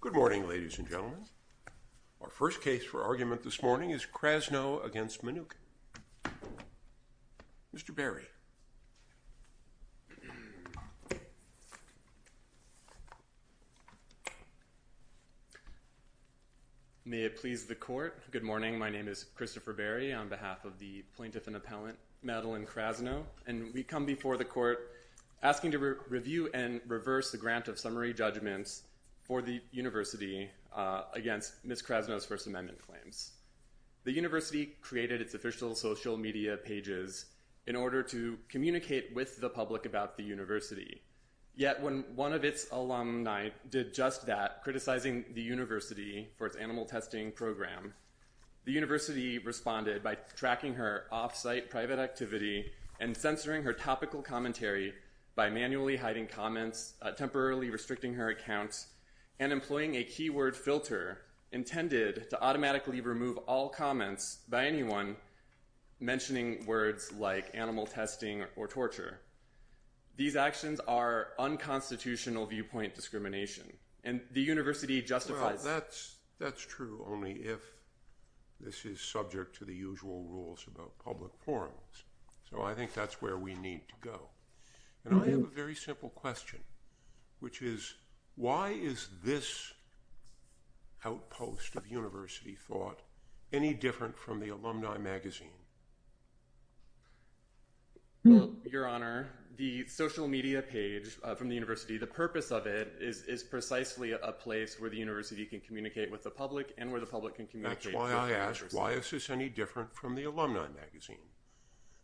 Good morning, ladies and gentlemen. Our first case for argument this morning is Krasno v. Mnookin. Mr. Berry. Christopher Berry May it please the Court. Good morning. My name is Christopher Berry on behalf of the Plaintiff and Appellant Madeline Krasno and we come before the Court asking to review and reverse the grant of summary judgments for the University against Ms. Krasno's First Amendment claims. The University created its official social media pages in order to communicate with the public about the University. Yet when one of its alumni did just that, criticizing the University for its animal testing program, the University responded by tracking her off-site private activity and censoring her topical commentary by manually hiding comments, temporarily restricting her accounts, and employing a words like animal testing or torture. These actions are unconstitutional viewpoint discrimination and the University justifies Well, that's true only if this is subject to the usual rules about public forums. So I think that's where we need to go. And I have a very simple question, which is why is this outpost of University thought any different from the alumni magazine? Well, Your Honor, the social media page from the University, the purpose of it is precisely a place where the University can communicate with the public and where the public can communicate. That's why I asked, why is this any different from the alumni magazine?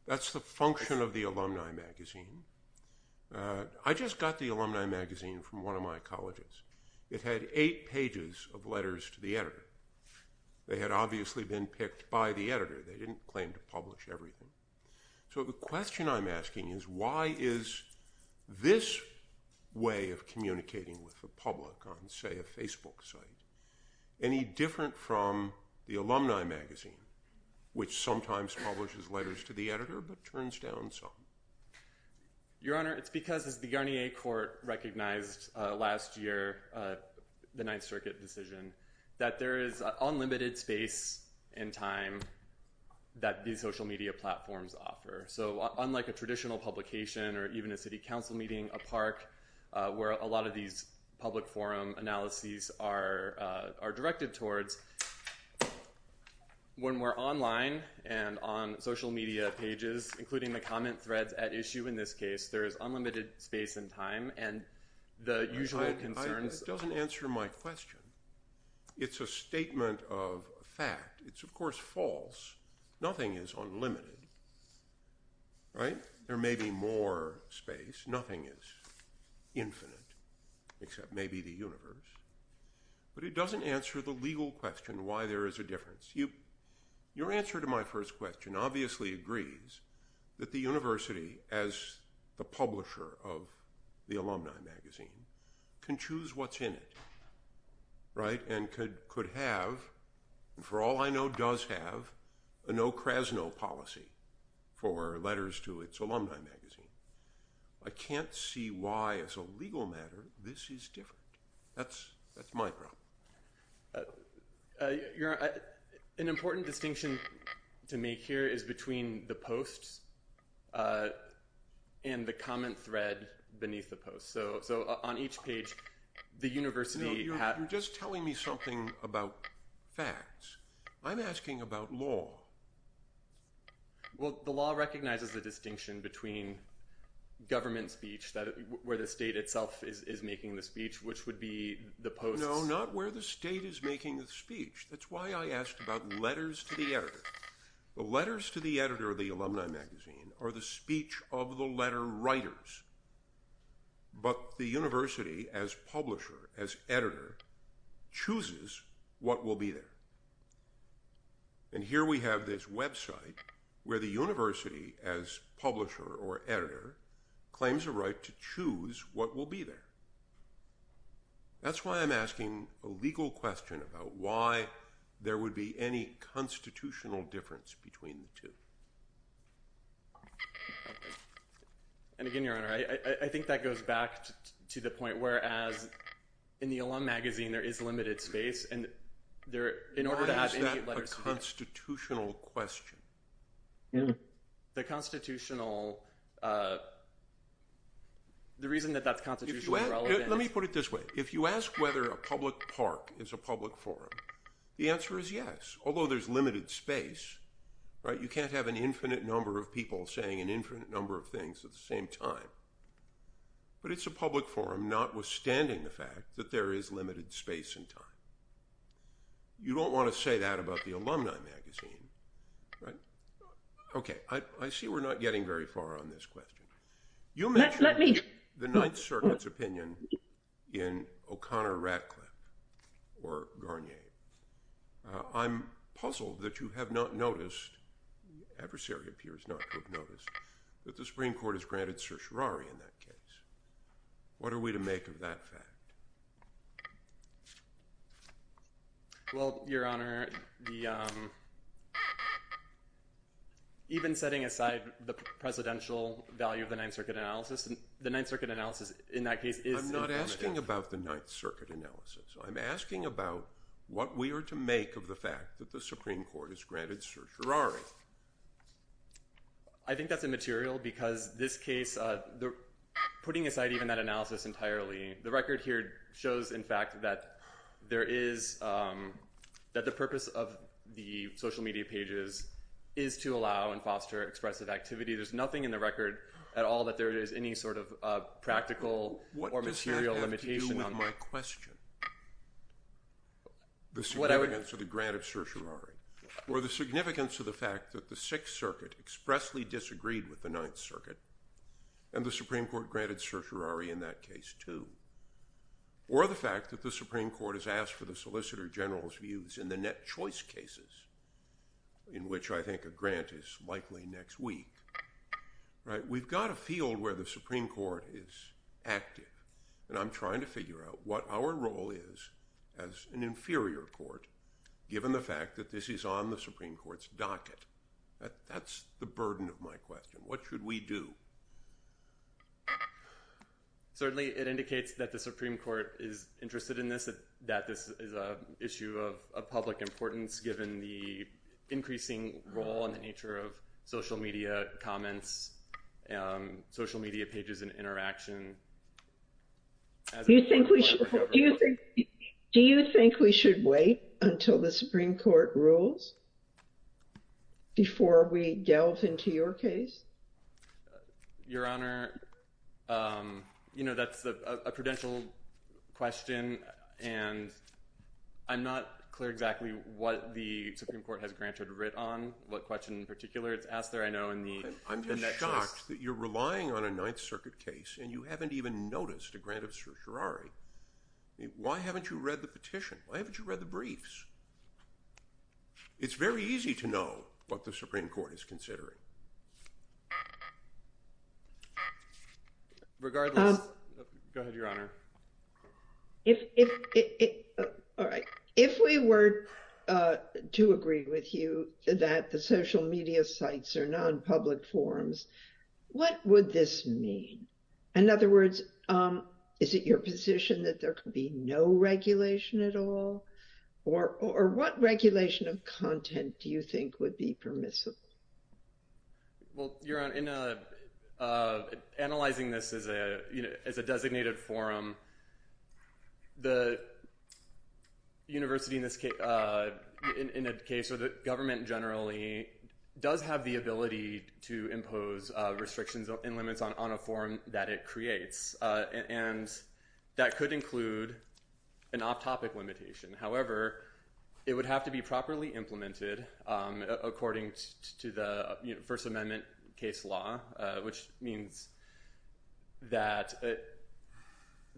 That's the function of the alumni magazine. I just got the alumni magazine from one of my editors. They didn't claim to publish everything. So the question I'm asking is why is this way of communicating with the public on, say, a Facebook site, any different from the alumni magazine, which sometimes publishes letters to the editor but turns down some? Your Honor, it's because as the Yarnier Court recognized last year, the Ninth Circuit decision, that there is unlimited space and time that these social media platforms offer. So unlike a traditional publication or even a city council meeting, a park, where a lot of these public forum analyses are directed towards, when we're online and on social media pages, including the comment threads at issue in this case, there is unlimited space and time. And the usual concerns... That doesn't answer my question. It's a statement of fact. It's, of course, false. Nothing is unlimited, right? There may be more space. Nothing is infinite, except maybe the universe. But it doesn't answer the legal question, why there is a difference. Your answer to my first question obviously agrees that the university, as the publisher of the alumni magazine, can choose what's in it, right? And could have, for all I know, does have a no-Krasno policy for letters to its alumni magazine. I can't see why, as a legal matter, this is different. That's my problem. Your Honor, an important distinction to make here is between the posts and the comment thread beneath the post. So on each page, the university... You're just telling me something about facts. I'm asking about law. Well, the law recognizes the distinction between government speech, where the state itself is making the speech, which would be the post... No, not where the state is making the speech. That's why I asked about letters to the editor. The letters to the editor of the alumni magazine are the speech of the letter writers. But the university, as publisher, as editor, chooses what will be there. And here we have this website where the university, as publisher or editor, claims a right to choose what will be there. That's why I'm asking a legal question about why there would be any constitutional difference between the two. And again, Your Honor, I think that goes back to the point, whereas in the alum magazine, there is limited space, and there, in order to have... Why is that a constitutional question? The constitutional... The reason that that's constitutionally relevant... Let me put it this way. If you ask whether a public park is a public forum, the answer is yes, although there's limited space, right? You can't have an infinite number of people saying an infinite number of things at the same time. But it's a public forum, notwithstanding the fact that there is limited space and time. You don't want to say that about the alumni magazine, right? Okay, I see we're not getting very far on this question. You mentioned the Ninth Circuit's position in O'Connor-Ratcliffe or Garnier. I'm puzzled that you have not noticed, the adversary appears not to have noticed, that the Supreme Court has granted certiorari in that case. What are we to make of that fact? Well, Your Honor, even setting aside the presidential value of the Ninth Circuit analysis, the Ninth Circuit analysis in that case is... I'm not asking about the Ninth Circuit analysis. I'm asking about what we are to make of the fact that the Supreme Court has granted certiorari. I think that's immaterial because this case, putting aside even that analysis entirely, the record here shows, in fact, that the purpose of the social media pages is to allow and foster expressive activity. There's nothing in the record at all that there is any sort of practical or material limitation on that. What does that have to do with my question? The significance of the grant of certiorari, or the significance of the fact that the Sixth Circuit expressly disagreed with the Ninth Circuit, and the Supreme Court granted certiorari in that case too, or the fact that the Supreme Court has asked for the Solicitor General's views in the net choice cases, in which I think the grant is likely next week. We've got a field where the Supreme Court is active, and I'm trying to figure out what our role is as an inferior court, given the fact that this is on the Supreme Court's docket. That's the burden of my question. What should we do? Certainly, it indicates that the Supreme Court is interested in this, that this is an issue of social media comments, social media pages, and interaction. Do you think we should wait until the Supreme Court rules before we delve into your case? Your Honor, you know, that's a prudential question, and I'm not clear exactly what the Supreme Court has granted writ on, what question in particular it's asked there, I know, in the net choice. I'm just shocked that you're relying on a Ninth Circuit case, and you haven't even noticed a grant of certiorari. Why haven't you read the petition? Why haven't you read the briefs? It's very easy to know what the Supreme Court is considering. Regardless, go ahead, Your Honor. All right. If we were to agree with you that the social media sites are non-public forums, what would this mean? In other words, is it your position that there could be no regulation at all, or what regulation of content do you think would be permissible? Well, Your Honor, in analyzing this as a designated forum, the university in this case, in a case where the government generally does have the ability to impose restrictions and limits on a forum that it creates, and that could include an off-topic limitation. However, it would have to be properly implemented according to the First Amendment case law, which means that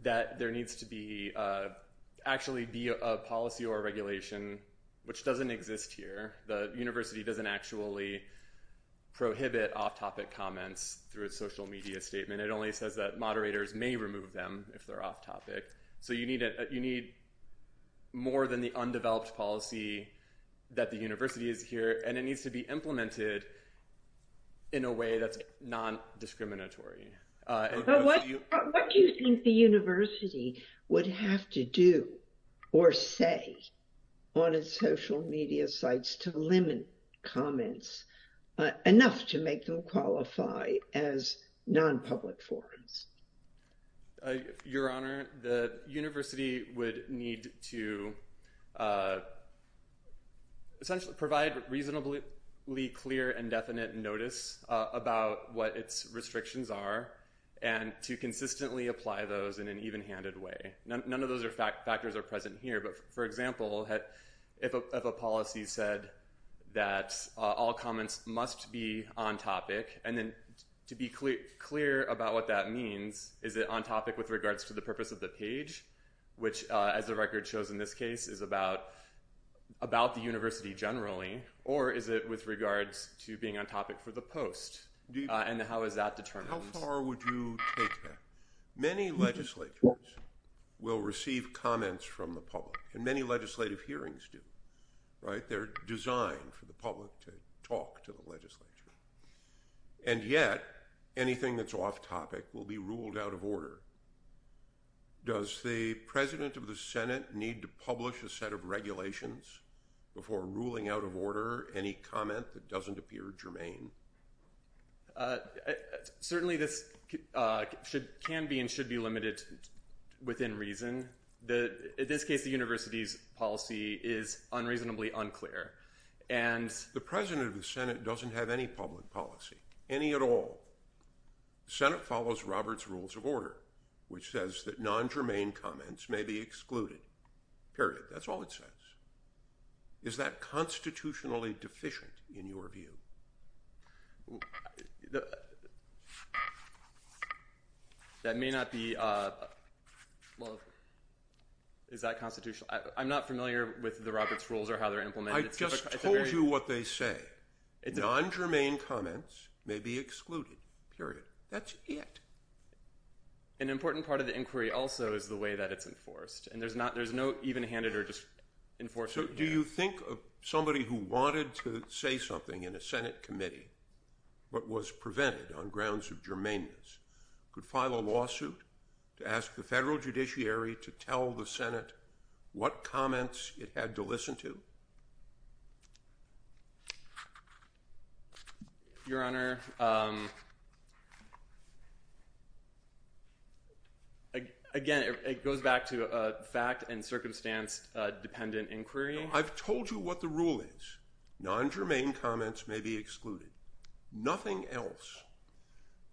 there needs to actually be a policy or regulation, which doesn't exist here. The university doesn't actually prohibit off-topic comments through a social media statement. It only says that moderators may remove them if they're undeveloped policy that the university is here, and it needs to be implemented in a way that's non-discriminatory. What do you think the university would have to do or say on its social media sites to limit comments enough to make them qualify as non-public forums? Your Honor, the university would need to essentially provide reasonably clear and definite notice about what its restrictions are, and to consistently apply those in an even-handed way. None of those factors are present here, but for example, if a policy said that all comments must be on-topic, and then to be clear about what that means, is it on-topic with regards to the purpose of the page, which as the record shows in this case, is about the university generally, or is it with regards to being on-topic for the post, and how is that determined? How far would you take that? Many legislatures will receive comments from the public, and many legislative hearings do. They're designed for the public to talk to the legislature. And yet, anything that's off-topic will be ruled out of order. Does the President of the Senate need to publish a set of regulations before ruling out of order any comment that doesn't appear germane? Certainly this can be and should be limited within reason. In this case, the university's policy is unreasonably unclear. The President of the Senate doesn't have any public policy, any at all. The Senate follows Robert's Rules of Order, which says that non-germane comments may be excluded. Period. That's all it says. Is that constitutionally deficient in your view? I'm not familiar with the Robert's Rules or how they're implemented. I just told you what they say. Non-germane comments may be excluded. Period. That's it. An important part of the inquiry also is the way that it's enforced, and there's no even-handed or just enforced. Do you think somebody who wanted to say something in a Senate committee, but was prevented on grounds of germaneness, could file a lawsuit to ask the federal judiciary to tell the Senate what comments it had to listen to? Your Honor, again, it goes back to fact and circumstance dependent inquiry. I've told you what the rule is. Non-germane comments may be excluded. Nothing else.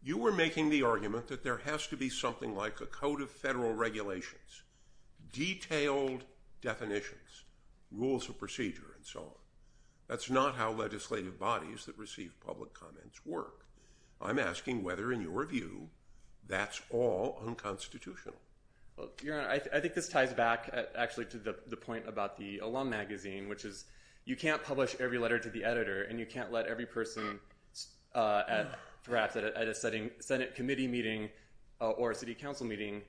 You were making the argument that there has to be something like a code of federal regulations, detailed definitions, rules of procedure, and so on. That's not how legislative bodies that receive public comments work. I'm asking whether, in your view, that's all unconstitutional. Your Honor, I think this ties back, actually, to the point about the alum magazine, which is you can't publish every letter to the editor, and you can't let every person, perhaps, at a Senate committee meeting or a city council meeting,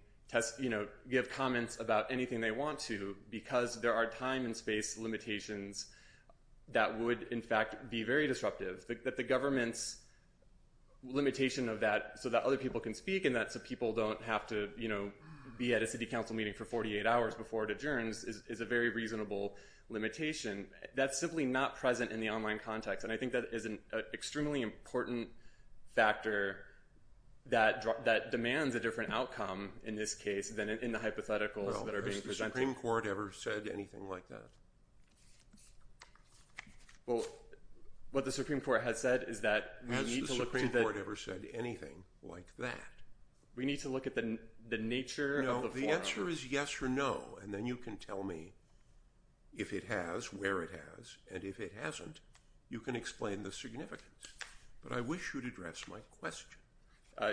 give comments about anything they want to, because there are time and space limitations that would, in fact, be very disruptive. The government's limitation of that, so that other people can speak and that people don't have to be at a city council meeting for 48 hours before it adjourns, is a very reasonable limitation. That's simply not present in the online context, and I think that is an extremely important factor that demands a different outcome in this case than in the hypotheticals that are being presented. Well, has the Supreme Court ever said anything like that? Well, what the Supreme Court has said is that we need to look to the— Has the Supreme Court ever said anything like that? We need to look at the nature of the form. The answer is yes or no, and then you can tell me if it has, where it has, and if it hasn't, you can explain the significance. But I wish you'd address my question. I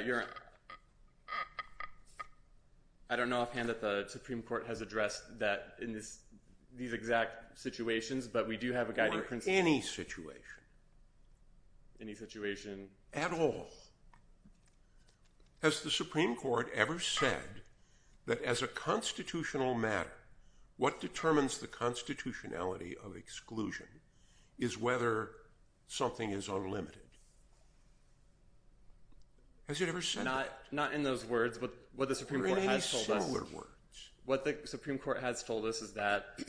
don't know offhand that the Supreme Court has addressed that in these exact situations, but we do have a guiding principle— Or any situation. Any situation. At all. Has the Supreme Court ever said that as a constitutional matter, what determines the constitutionality of exclusion is whether something is unlimited? Has it ever said that? Not in those words, but what the Supreme Court has told us— Or in any similar words. What the Supreme Court has told us is that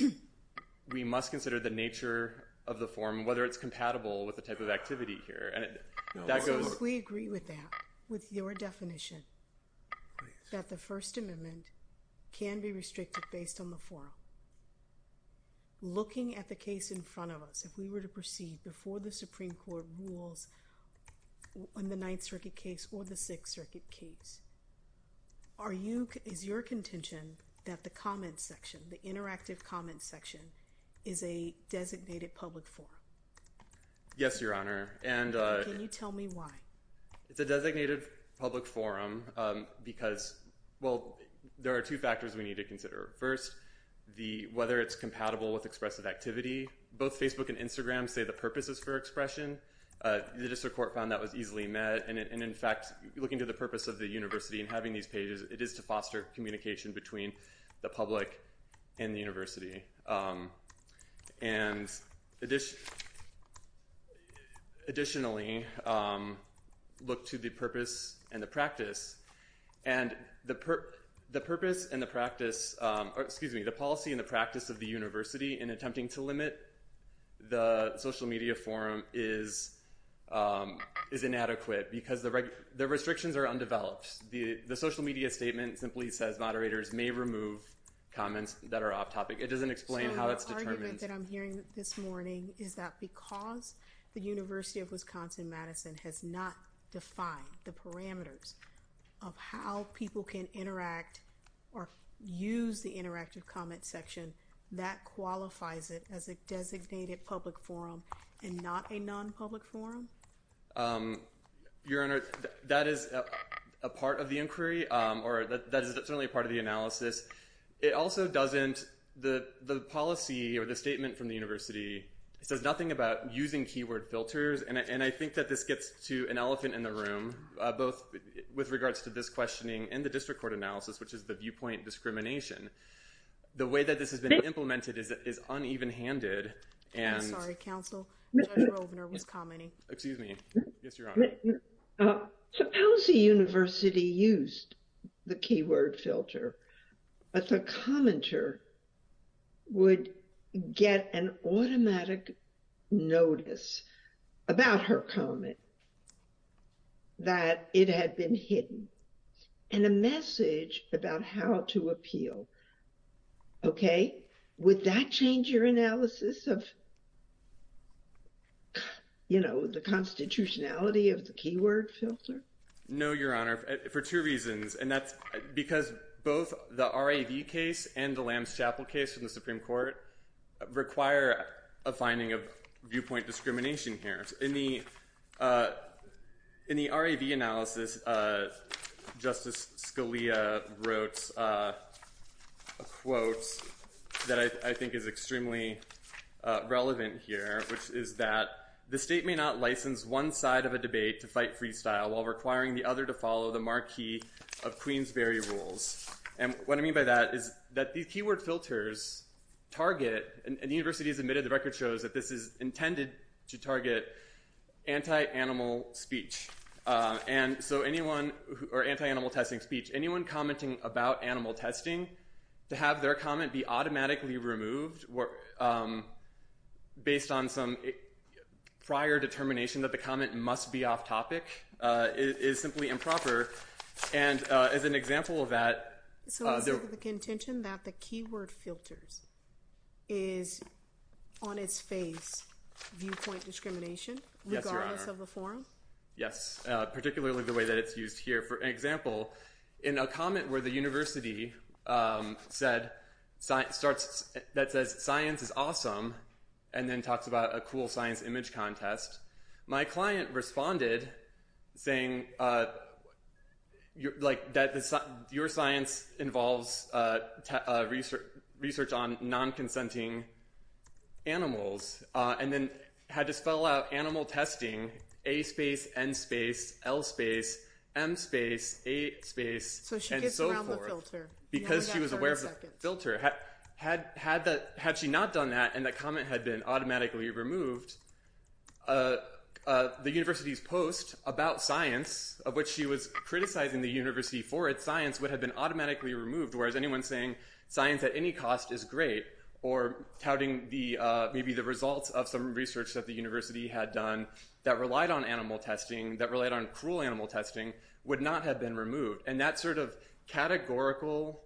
we must consider the nature of the form, whether it's compatible with the type of activity here, and that goes— If we agree with that, with your definition, that the First Amendment can be restricted based on the form, looking at the case in front of us, if we were to proceed before the Supreme Court rules on the Ninth Circuit case or the Sixth Circuit case, is your contention that the comments section, the interactive comments section, is a designated public forum? Yes, Your Honor, and— And tell me why. It's a designated public forum because, well, there are two factors we need to consider. First, whether it's compatible with expressive activity. Both Facebook and Instagram say the purpose is for expression. The district court found that was easily met, and in fact, looking to the purpose of the university and having these pages, it is to foster communication between the public and the university. And additionally, look to the purpose and the practice. And the purpose and the practice—excuse me, the policy and the practice of the university in attempting to limit the social media forum is inadequate because the restrictions are undeveloped. The social media statement simply says moderators may remove comments that are off-topic. It doesn't explain how it's determined. So the argument that I'm hearing this morning is that because the University of Wisconsin-Madison has not defined the parameters of how people can interact or use the interactive comments section, that qualifies it as a designated public forum and not a non-public forum? Your Honor, that is a part of the inquiry, or that is certainly a part of the analysis. It also doesn't—the policy or the statement from the university says nothing about using keyword filters. And I think that this gets to an elephant in the room, both with regards to this questioning and the district court analysis, which is the viewpoint discrimination. The way that this has been implemented is uneven-handed. I'm sorry, counsel. Judge Rovner was commenting. Excuse me. Yes, Your Honor. Suppose a university used the keyword filter, but the commenter would get an automatic notice about her comment, that it had been hidden, and a message about how to appeal. Would that change your analysis of the constitutionality of the keyword filter? No, Your Honor, for two reasons. And that's because both the RAV case and the Lambs Chapel case from the Supreme Court require a finding of viewpoint discrimination here. In the RAV analysis, Justice Scalia wrote a quote that I think is extremely relevant here, which is that the state may not license one side of a debate to fight freestyle while requiring the other to follow the marquee of Queensberry rules. And what I mean by that is that these keyword filters target, and the university has admitted, the record shows, that this is intended to target anti-animal testing speech. Anyone commenting about animal testing, to have their comment be automatically removed based on some prior determination that the comment must be off-topic is simply improper. And as an example of that, So the contention that the keyword filters is on its face viewpoint discrimination, regardless of the forum? Yes, particularly the way that it's used here. For example, in a comment where the university said, that says science is awesome, and then talks about a cool science image contest, my client responded saying that your science involves research on non-consenting animals, and then had to spell out animal testing, A space, N space, L space, M space, A space, and so forth, because she was aware of the filter. Had she not done that, and the comment had been automatically removed, the university's post about science, of which she was criticizing the university for its science, would have been automatically removed, whereas anyone saying science at any cost is great, or touting maybe the results of some research that the university had done, that relied on animal testing, that relied on cruel animal testing, would not have been removed. And that sort of categorical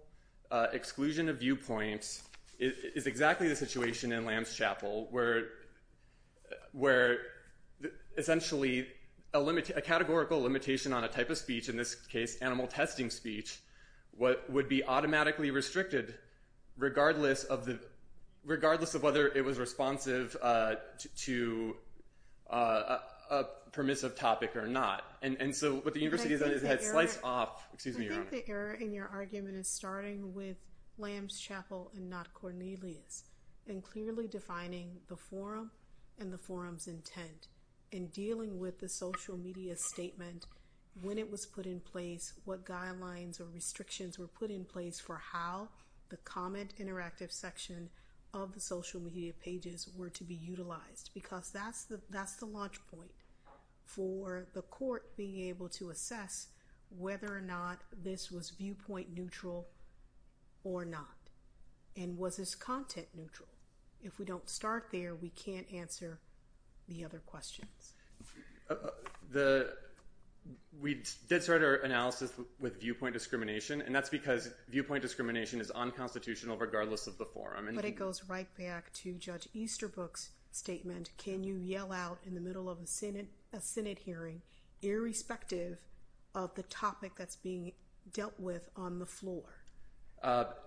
exclusion of viewpoints is exactly the situation in Lamb's Chapel, where essentially a categorical limitation on a type of speech, in this case animal testing speech, would be automatically restricted, regardless of whether it was responsive to a permissive topic or not. I think the error in your argument is starting with Lamb's Chapel and not Cornelius, and clearly defining the forum and the forum's intent, and dealing with the social media statement, when it was put in place, what guidelines or restrictions were put in place for how the comment interactive section of the social media pages were to be utilized, because that's the launch point for the court being able to assess whether or not this was viewpoint neutral or not. And was this content neutral? If we don't start there, we can't answer the other questions. We did start our analysis with viewpoint discrimination, and that's because viewpoint discrimination is unconstitutional, regardless of the forum. But it goes right back to Judge Easterbrook's statement. Can you yell out in the middle of a Senate hearing, irrespective of the topic that's being dealt with on the floor?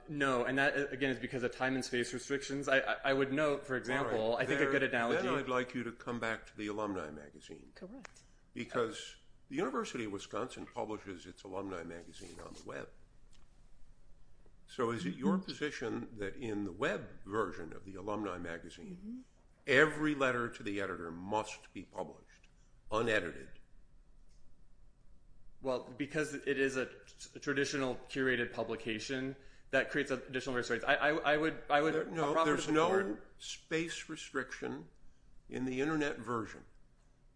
No, and that, again, is because of time and space restrictions. I would note, for example, I think a good analogy— Then I'd like you to come back to the alumni magazine. Correct. So is it your position that in the web version of the alumni magazine, every letter to the editor must be published, unedited? Well, because it is a traditional curated publication, that creates additional restrictions. I would— No, there's no space restriction in the internet version.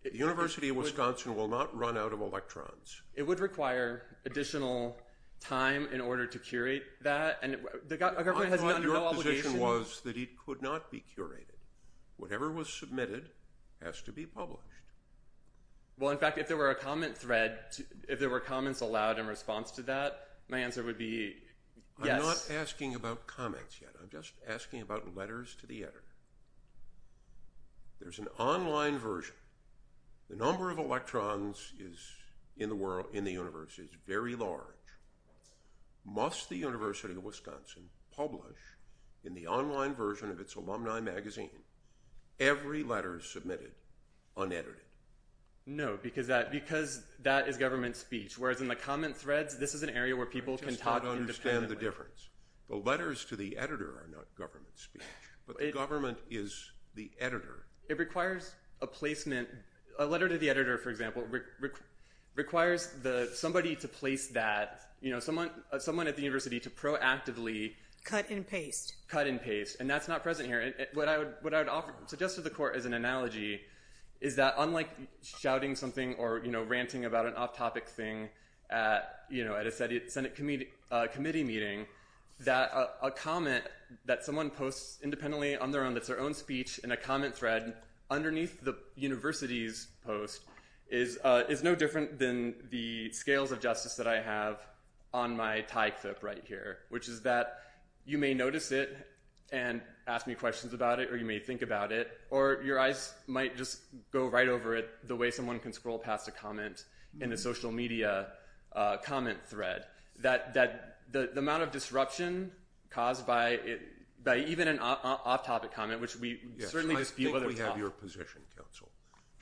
The University of Wisconsin will not run out of electrons. It would require additional time in order to curate that, and the government has no obligation— My point of your position was that it could not be curated. Whatever was submitted has to be published. Well, in fact, if there were a comment thread, if there were comments allowed in response to that, my answer would be yes. I'm not asking about comments yet. I'm just asking about letters to the editor. There's an online version. The number of electrons in the universe is very large. Must the University of Wisconsin publish, in the online version of its alumni magazine, every letter submitted unedited? No, because that is government speech, whereas in the comment threads, this is an area where people can talk independently. I just don't understand the difference. The letters to the editor are not government speech, but the government is the editor. It requires a placement. A letter to the editor, for example, requires somebody at the university to proactively— Cut and paste. Cut and paste, and that's not present here. What I would suggest to the court as an analogy is that, unlike shouting something or ranting about an off-topic thing at a Senate committee meeting, that a comment that someone posts independently on their own, that's their own speech in a comment thread, underneath the university's post is no different than the scales of justice that I have on my tie clip right here, which is that you may notice it and ask me questions about it, or you may think about it, or your eyes might just go right over it the way someone can scroll past a comment in a social media comment thread. The amount of disruption caused by even an off-topic comment, which we certainly— Yes, I think we have your position, counsel.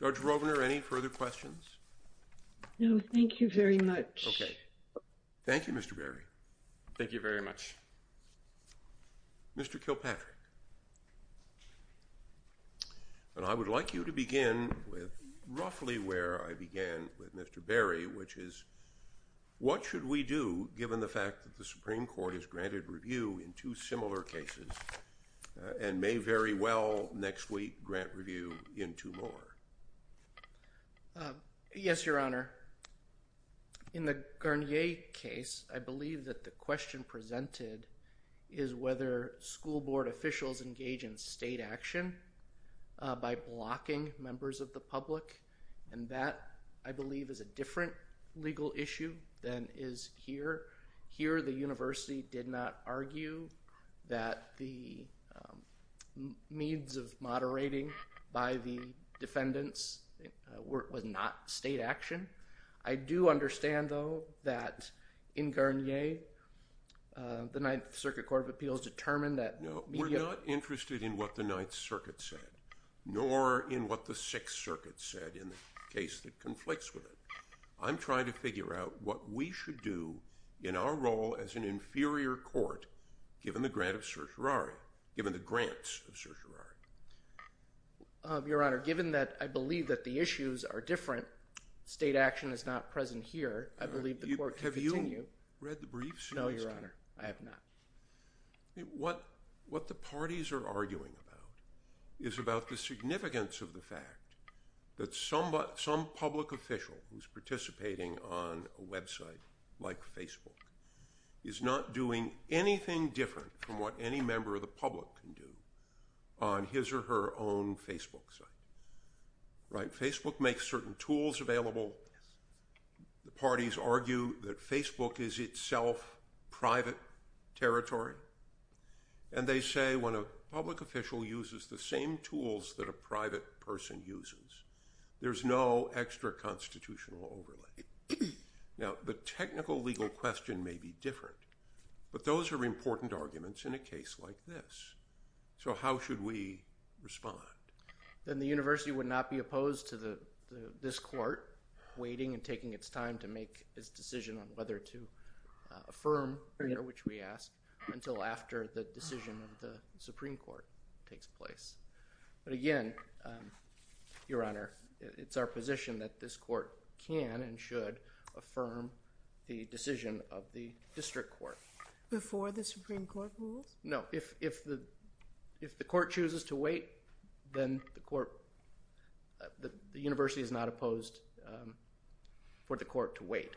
Judge Rovner, any further questions? No, thank you very much. Okay. Thank you, Mr. Berry. Thank you very much. Mr. Kilpatrick. I would like you to begin with roughly where I began with Mr. Berry, which is, what should we do given the fact that the Supreme Court has granted review in two similar cases and may very well next week grant review in two more? Yes, Your Honor. In the Garnier case, I believe that the question presented is whether school board officials engage in state action by blocking members of the public, and that, I believe, is a different legal issue than is here. Here, the university did not argue that the means of moderating by the defendants was not state action. I do understand, though, that in Garnier, the Ninth Circuit Court of Appeals determined that— No, we're not interested in what the Ninth Circuit said, nor in what the Sixth Circuit said in the case that conflicts with it. I'm trying to figure out what we should do in our role as an inferior court given the grant of certiorari, given the grants of certiorari. Your Honor, given that I believe that the issues are different, state action is not present here, I believe the court can continue. Have you read the briefs? No, Your Honor, I have not. What the parties are arguing about is about the significance of the fact that some public official who's participating on a website like Facebook is not doing anything different from what any member of the public can do on his or her own Facebook site. Facebook makes certain tools available. The parties argue that Facebook is itself private territory, and they say when a public official uses the same tools that a private person uses, there's no extra constitutional overlay. Now, the technical legal question may be different, but those are important arguments in a case like this. So how should we respond? Then the university would not be opposed to this court waiting and taking its time to make its decision on whether to affirm, which we ask, until after the decision of the Supreme Court takes place. But again, Your Honor, it's our position that this court can and should affirm the decision of the district court. Before the Supreme Court rules? No, if the court chooses to wait, then the university is not opposed for the court to wait.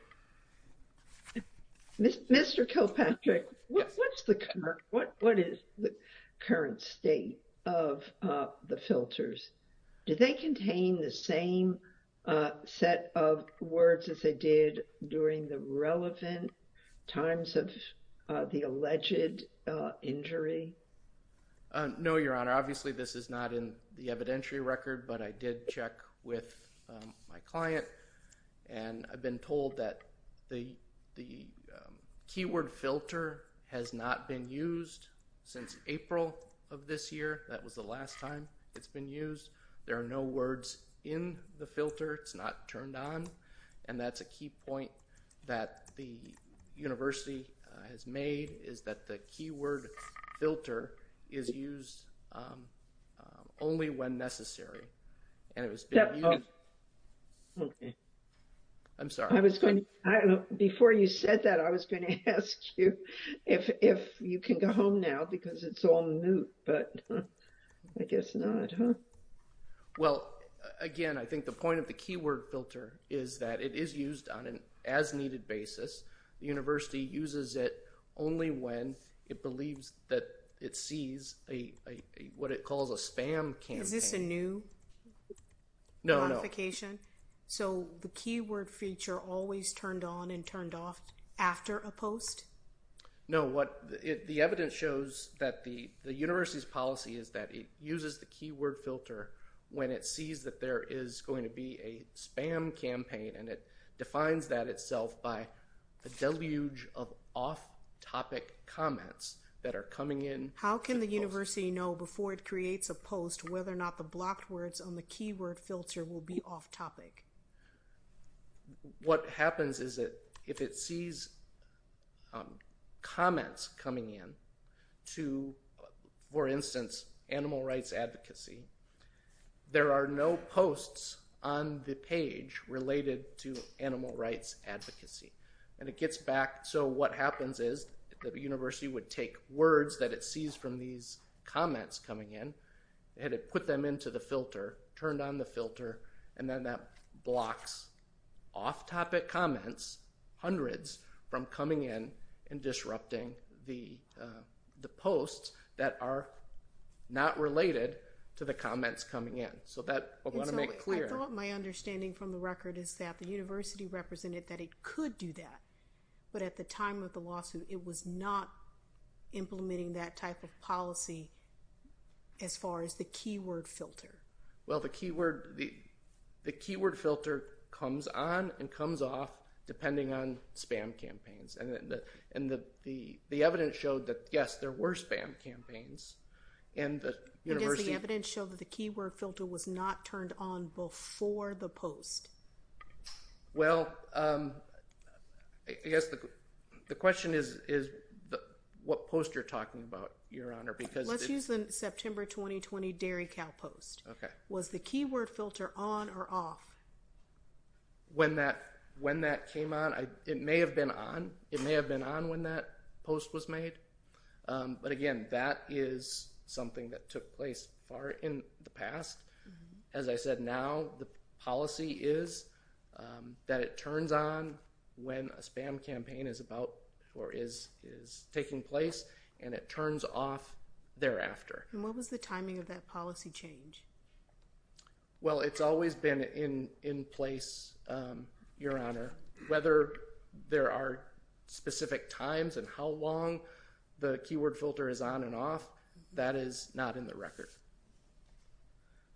Mr. Kilpatrick, what is the current state of the filters? Do they contain the same set of words as they did during the relevant times of the alleged injury? No, Your Honor. Obviously, this is not in the evidentiary record, but I did check with my client, and I've been told that the keyword filter has not been used since April of this year. That was the last time it's been used. There are no words in the filter. It's not turned on, and that's a key point that the university has made, is that the keyword filter is used only when necessary. I'm sorry. Before you said that, I was going to ask you if you can go home now because it's all moot, but I guess not. Well, again, I think the point of the keyword filter is that it is used on an as-needed basis. The university uses it only when it believes that it sees what it calls a spam campaign. Is this a new modification? No, no. So the keyword feature always turned on and turned off after a post? No. The evidence shows that the university's policy is that it uses the keyword filter when it sees that there is going to be a spam campaign, and it defines that itself by a deluge of off-topic comments that are coming in. How can the university know before it creates a post whether or not the blocked words on the keyword filter will be off-topic? What happens is that if it sees comments coming in to, for instance, animal rights advocacy, there are no posts on the page related to animal rights advocacy, and it gets back. So what happens is that the university would take words that it sees from these comments coming in, had it put them into the filter, turned on the filter, and then that blocks off-topic comments, hundreds, from coming in and disrupting the posts that are not related to the comments coming in. So that, I want to make clear. I thought my understanding from the record is that the university represented that it could do that, but at the time of the lawsuit it was not implementing that type of policy as far as the keyword filter. Well, the keyword filter comes on and comes off depending on spam campaigns, and the evidence showed that, yes, there were spam campaigns, and the university— And does the evidence show that the keyword filter was not turned on before the post? Well, I guess the question is what post you're talking about, Your Honor, because— Let's use the September 2020 Dairy Cow post. Okay. Was the keyword filter on or off? When that came on, it may have been on. It may have been on when that post was made, but again, that is something that took place far in the past. As I said, now the policy is that it turns on when a spam campaign is about or is taking place, and it turns off thereafter. And what was the timing of that policy change? Well, it's always been in place, Your Honor. Whether there are specific times and how long the keyword filter is on and off, that is not in the record.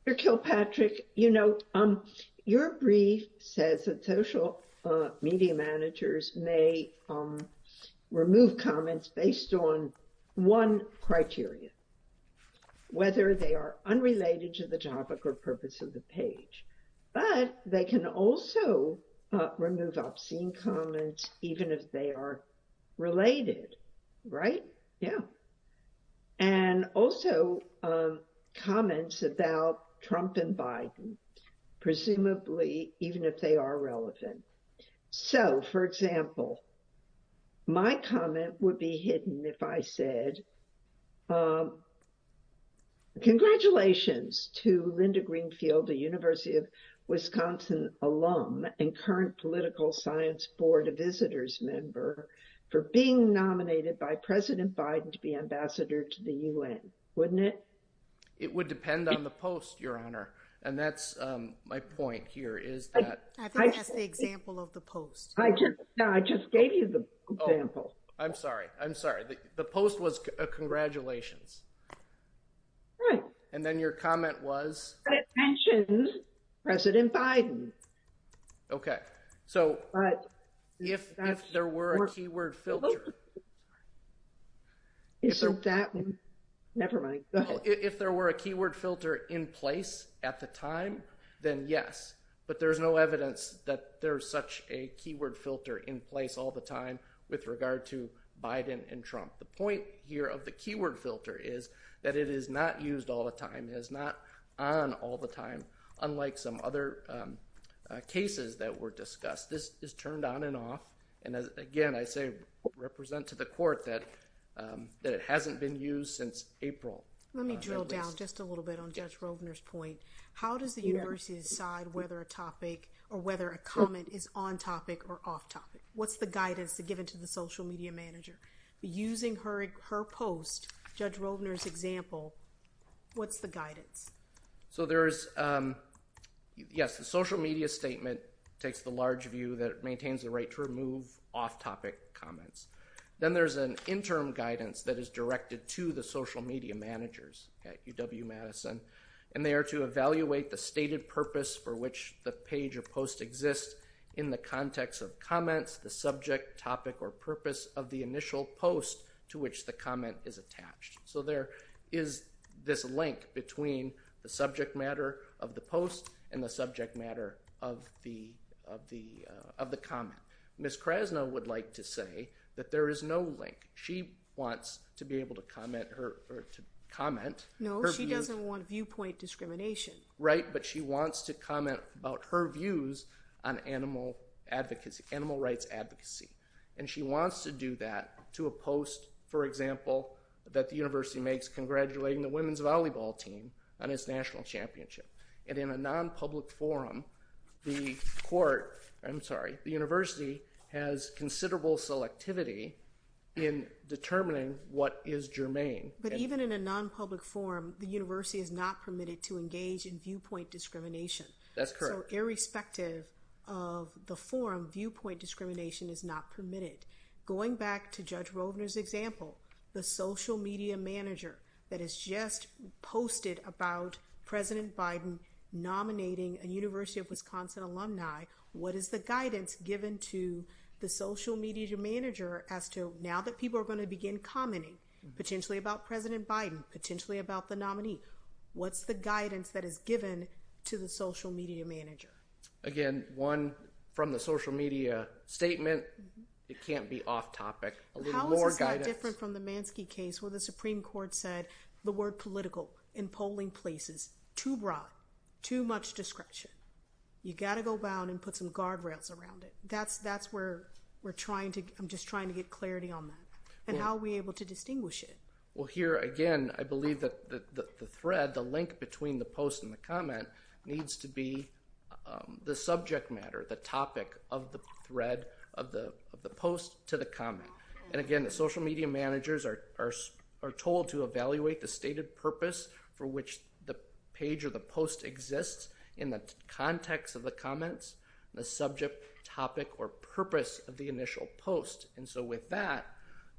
Mr. Kilpatrick, you know, your brief says that social media managers may remove comments based on one criteria, whether they are unrelated to the topic or purpose of the page. But they can also remove obscene comments even if they are related, right? Yeah. And also comments about Trump and Biden, presumably even if they are relevant. So, for example, my comment would be hidden if I said, congratulations to Linda Greenfield, a University of Wisconsin alum and current Political Science Board of Visitors member, for being nominated by President Biden to be ambassador to the U.N., wouldn't it? It would depend on the post, Your Honor. And that's my point here. I think that's the example of the post. I just gave you the example. I'm sorry. I'm sorry. The post was congratulations. Right. And then your comment was? It mentions President Biden. Okay. So, if there were a keyword filter. Is it that one? Never mind. If there were a keyword filter in place at the time, then yes. But there's no evidence that there's such a keyword filter in place all the time with regard to Biden and Trump. The point here of the keyword filter is that it is not used all the time. It is not on all the time, unlike some other cases that were discussed. This is turned on and off. And, again, I say represent to the court that it hasn't been used since April. Let me drill down just a little bit on Judge Rovner's point. How does the university decide whether a topic or whether a comment is on topic or off topic? What's the guidance given to the social media manager? Using her post, Judge Rovner's example, what's the guidance? Yes, the social media statement takes the large view that it maintains the right to remove off-topic comments. Then there's an interim guidance that is directed to the social media managers at UW-Madison, and they are to evaluate the stated purpose for which the page or post exists in the context of comments, the subject, topic, or purpose of the initial post to which the comment is attached. So there is this link between the subject matter of the post and the subject matter of the comment. Ms. Krasno would like to say that there is no link. She wants to be able to comment. No, she doesn't want viewpoint discrimination. Right, but she wants to comment about her views on animal rights advocacy. And she wants to do that to a post, for example, that the university makes congratulating the women's volleyball team on its national championship. And in a non-public forum, the university has considerable selectivity in determining what is germane. But even in a non-public forum, the university is not permitted to engage in viewpoint discrimination. That's correct. So irrespective of the forum, viewpoint discrimination is not permitted. Going back to Judge Rovner's example, the social media manager that has just posted about President Biden nominating a University of Wisconsin alumni, what is the guidance given to the social media manager as to now that people are going to begin commenting, potentially about President Biden, potentially about the nominee? What's the guidance that is given to the social media manager? Again, one from the social media statement. It can't be off-topic. A little more guidance. How is this not different from the Mansky case where the Supreme Court said the word political in polling places, too broad, too much discretion. You've got to go down and put some guardrails around it. That's where we're trying to—I'm just trying to get clarity on that. And how are we able to distinguish it? Well, here, again, I believe that the thread, the link between the post and the comment, needs to be the subject matter, the topic of the thread of the post to the comment. And, again, the social media managers are told to evaluate the stated purpose for which the page or the post exists in the context of the comments, the subject, topic, or purpose of the initial post. And so with that,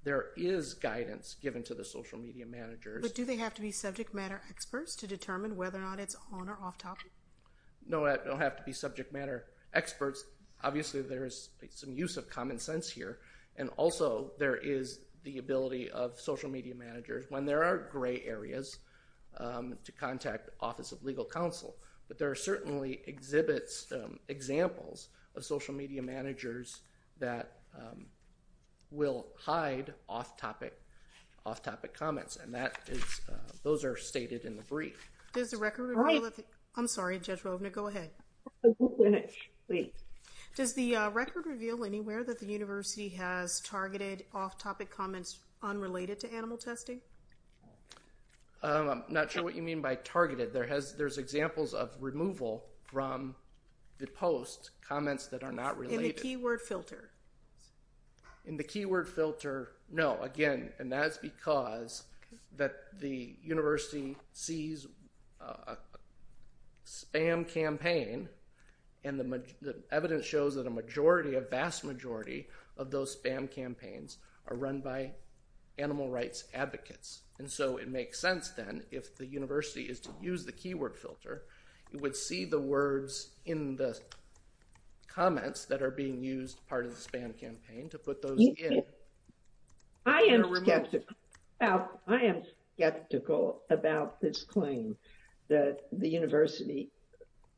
there is guidance given to the social media managers. But do they have to be subject matter experts to determine whether or not it's on or off-topic? No, they don't have to be subject matter experts. Obviously, there is some use of common sense here. And also, there is the ability of social media managers, when there are gray areas, to contact Office of Legal Counsel. But there are certainly exhibits, examples of social media managers that will hide off-topic comments. And that is—those are stated in the brief. Does the record—I'm sorry, Judge Rovner, go ahead. Just a minute, please. Does the record reveal anywhere that the university has targeted off-topic comments unrelated to animal testing? I'm not sure what you mean by targeted. There's examples of removal from the post, comments that are not related. In the keyword filter? In the keyword filter, no. Again, and that's because the university sees a spam campaign, and the evidence shows that a majority, a vast majority, of those spam campaigns are run by animal rights advocates. And so it makes sense, then, if the university is to use the keyword filter, it would see the words in the comments that are being used, part of the spam campaign, to put those in. I am skeptical about this claim that the university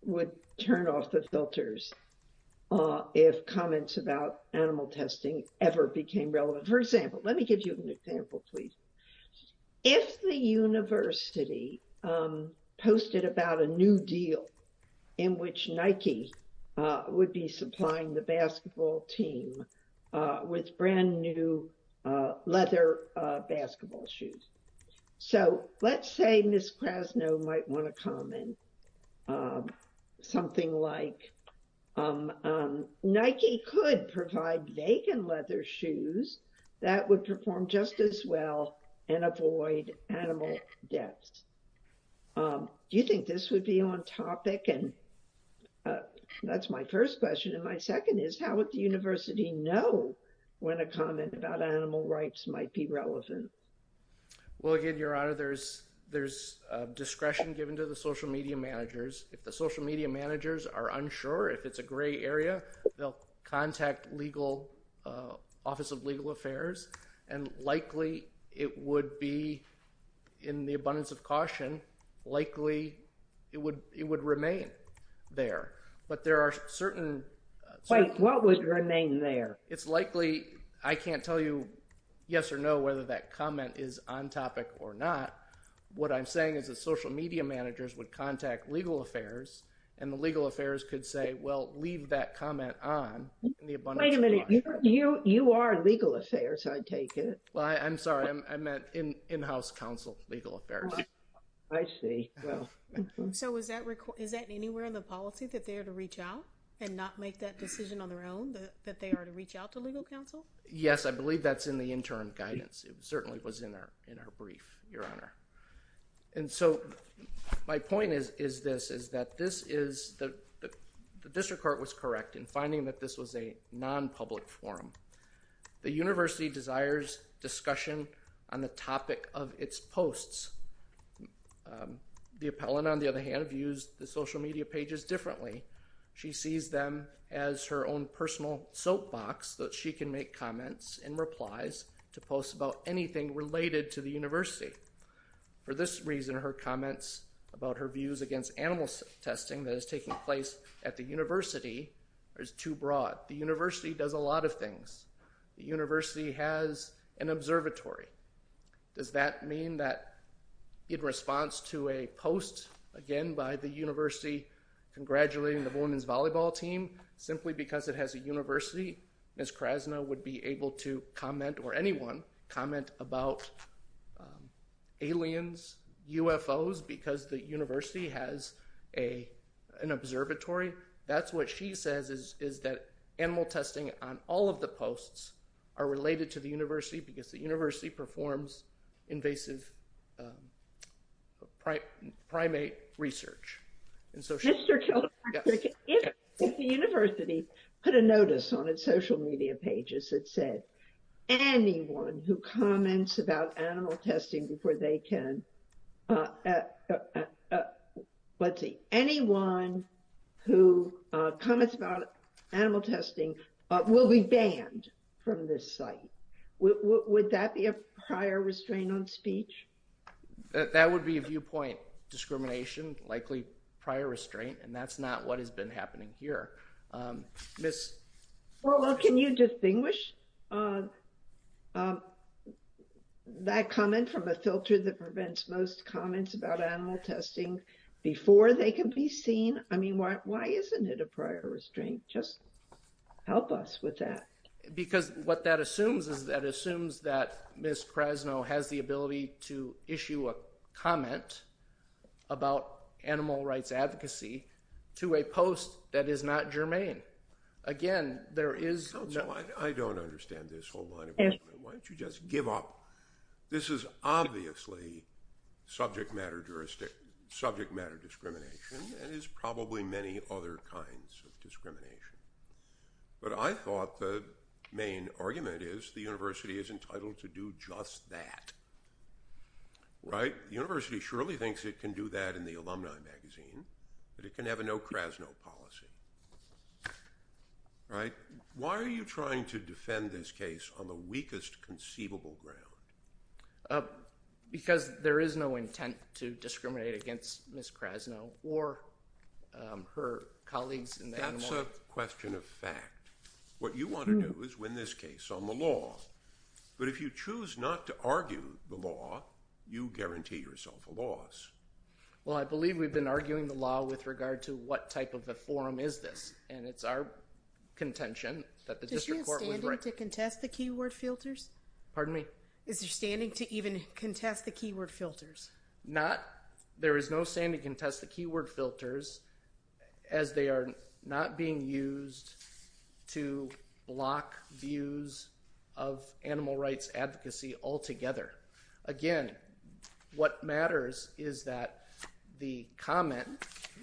would turn off the filters if comments about animal testing ever became relevant. For example, let me give you an example, please. If the university posted about a new deal in which Nike would be supplying the basketball team with brand-new leather basketball shoes. So let's say Ms. Krasno might want to comment something like, Nike could provide vacant leather shoes that would perform just as well and avoid animal deaths. Do you think this would be on topic? That's my first question, and my second is, how would the university know when a comment about animal rights might be relevant? Well, again, Your Honor, there's discretion given to the social media managers. If the social media managers are unsure, if it's a gray area, they'll contact the Office of Legal Affairs, and likely it would be in the abundance of caution, likely it would remain there. But there are certain… Wait, what would remain there? It's likely, I can't tell you yes or no whether that comment is on topic or not. What I'm saying is that social media managers would contact legal affairs, and the legal affairs could say, well, leave that comment on in the abundance of caution. Wait a minute, you are legal affairs, I take it? Well, I'm sorry, I meant in-house counsel legal affairs. I see. So is that anywhere in the policy that they are to reach out and not make that decision on their own, that they are to reach out to legal counsel? Yes, I believe that's in the interim guidance. It certainly was in our brief, Your Honor. And so my point is this, is that the district court was correct in finding that this was a non-public forum. The university desires discussion on the topic of its posts. The appellant, on the other hand, views the social media pages differently. She sees them as her own personal soapbox that she can make comments and replies to posts about anything related to the university. For this reason, her comments about her views against animal testing that is taking place at the university is too broad. The university does a lot of things. The university has an observatory. Does that mean that in response to a post, again, by the university congratulating the women's volleyball team, simply because it has a university, Ms. Krasna would be able to comment or anyone comment about aliens, UFOs, because the university has an observatory? That's what she says is that animal testing on all of the posts are related to the university because the university performs invasive primate research. Mr. Kilpatrick, if the university put a notice on its social media pages that said anyone who comments about animal testing before they can, let's see, anyone who comments about animal testing will be banned from this site, would that be a prior restraint on speech? That would be a viewpoint discrimination, likely prior restraint, and that's not what has been happening here. Can you distinguish that comment from a filter that prevents most comments about animal testing before they can be seen? I mean, why isn't it a prior restraint? Just help us with that. Because what that assumes is that it assumes that Ms. Krasna has the ability to issue a comment about animal rights advocacy to a post that is not germane. Again, there is no... I don't understand this whole line of reasoning. Why don't you just give up? This is obviously subject matter jurisdiction, subject matter discrimination, and it's probably many other kinds of discrimination. But I thought the main argument is the university is entitled to do just that, right? The university surely thinks it can do that in the alumni magazine, that it can have a no-Krasno policy, right? Why are you trying to defend this case on the weakest conceivable ground? Because there is no intent to discriminate against Ms. Krasna or her colleagues in the animal... That's a question of fact. What you want to do is win this case on the law. But if you choose not to argue the law, you guarantee yourself a loss. Well, I believe we've been arguing the law with regard to what type of a forum is this, and it's our contention that the district court was... Is your standing to contest the keyword filters? Pardon me? Is your standing to even contest the keyword filters? Not. There is no standing to contest the keyword filters as they are not being used to block views of animal rights advocacy altogether. Again, what matters is that the comment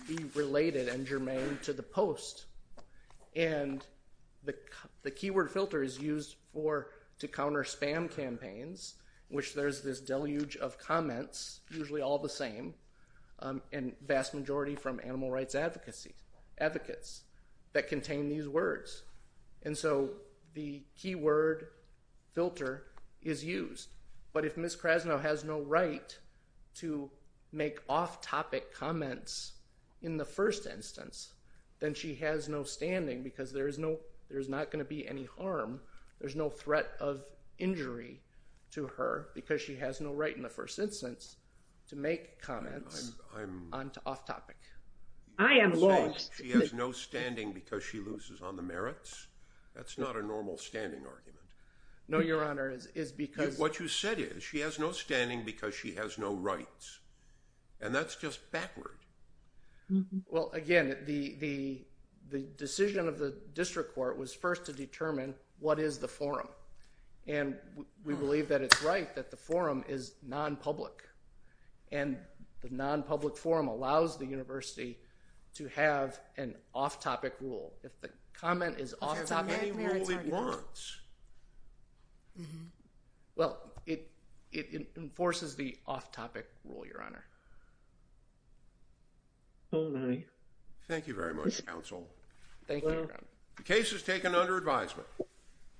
be related and germane to the post. And the keyword filter is used to counter spam campaigns, in which there's this deluge of comments, usually all the same, and vast majority from animal rights advocates that contain these words. And so the keyword filter is used. But if Ms. Krasna has no right to make off-topic comments in the first instance, then she has no standing because there's not going to be any harm. There's no threat of injury to her because she has no right in the first instance to make comments on to off-topic. I am lost. She has no standing because she loses on the merits? That's not a normal standing argument. No, Your Honor, it's because... What you said is she has no standing because she has no rights. And that's just backward. Well, again, the decision of the district court was first to determine what is the forum. And we believe that it's right that the forum is non-public. And the non-public forum allows the university to have an off-topic rule. If the comment is off-topic, it works. Well, it enforces the off-topic rule, Your Honor. All right. Thank you very much, counsel. Thank you, Your Honor. The case is taken under advisement.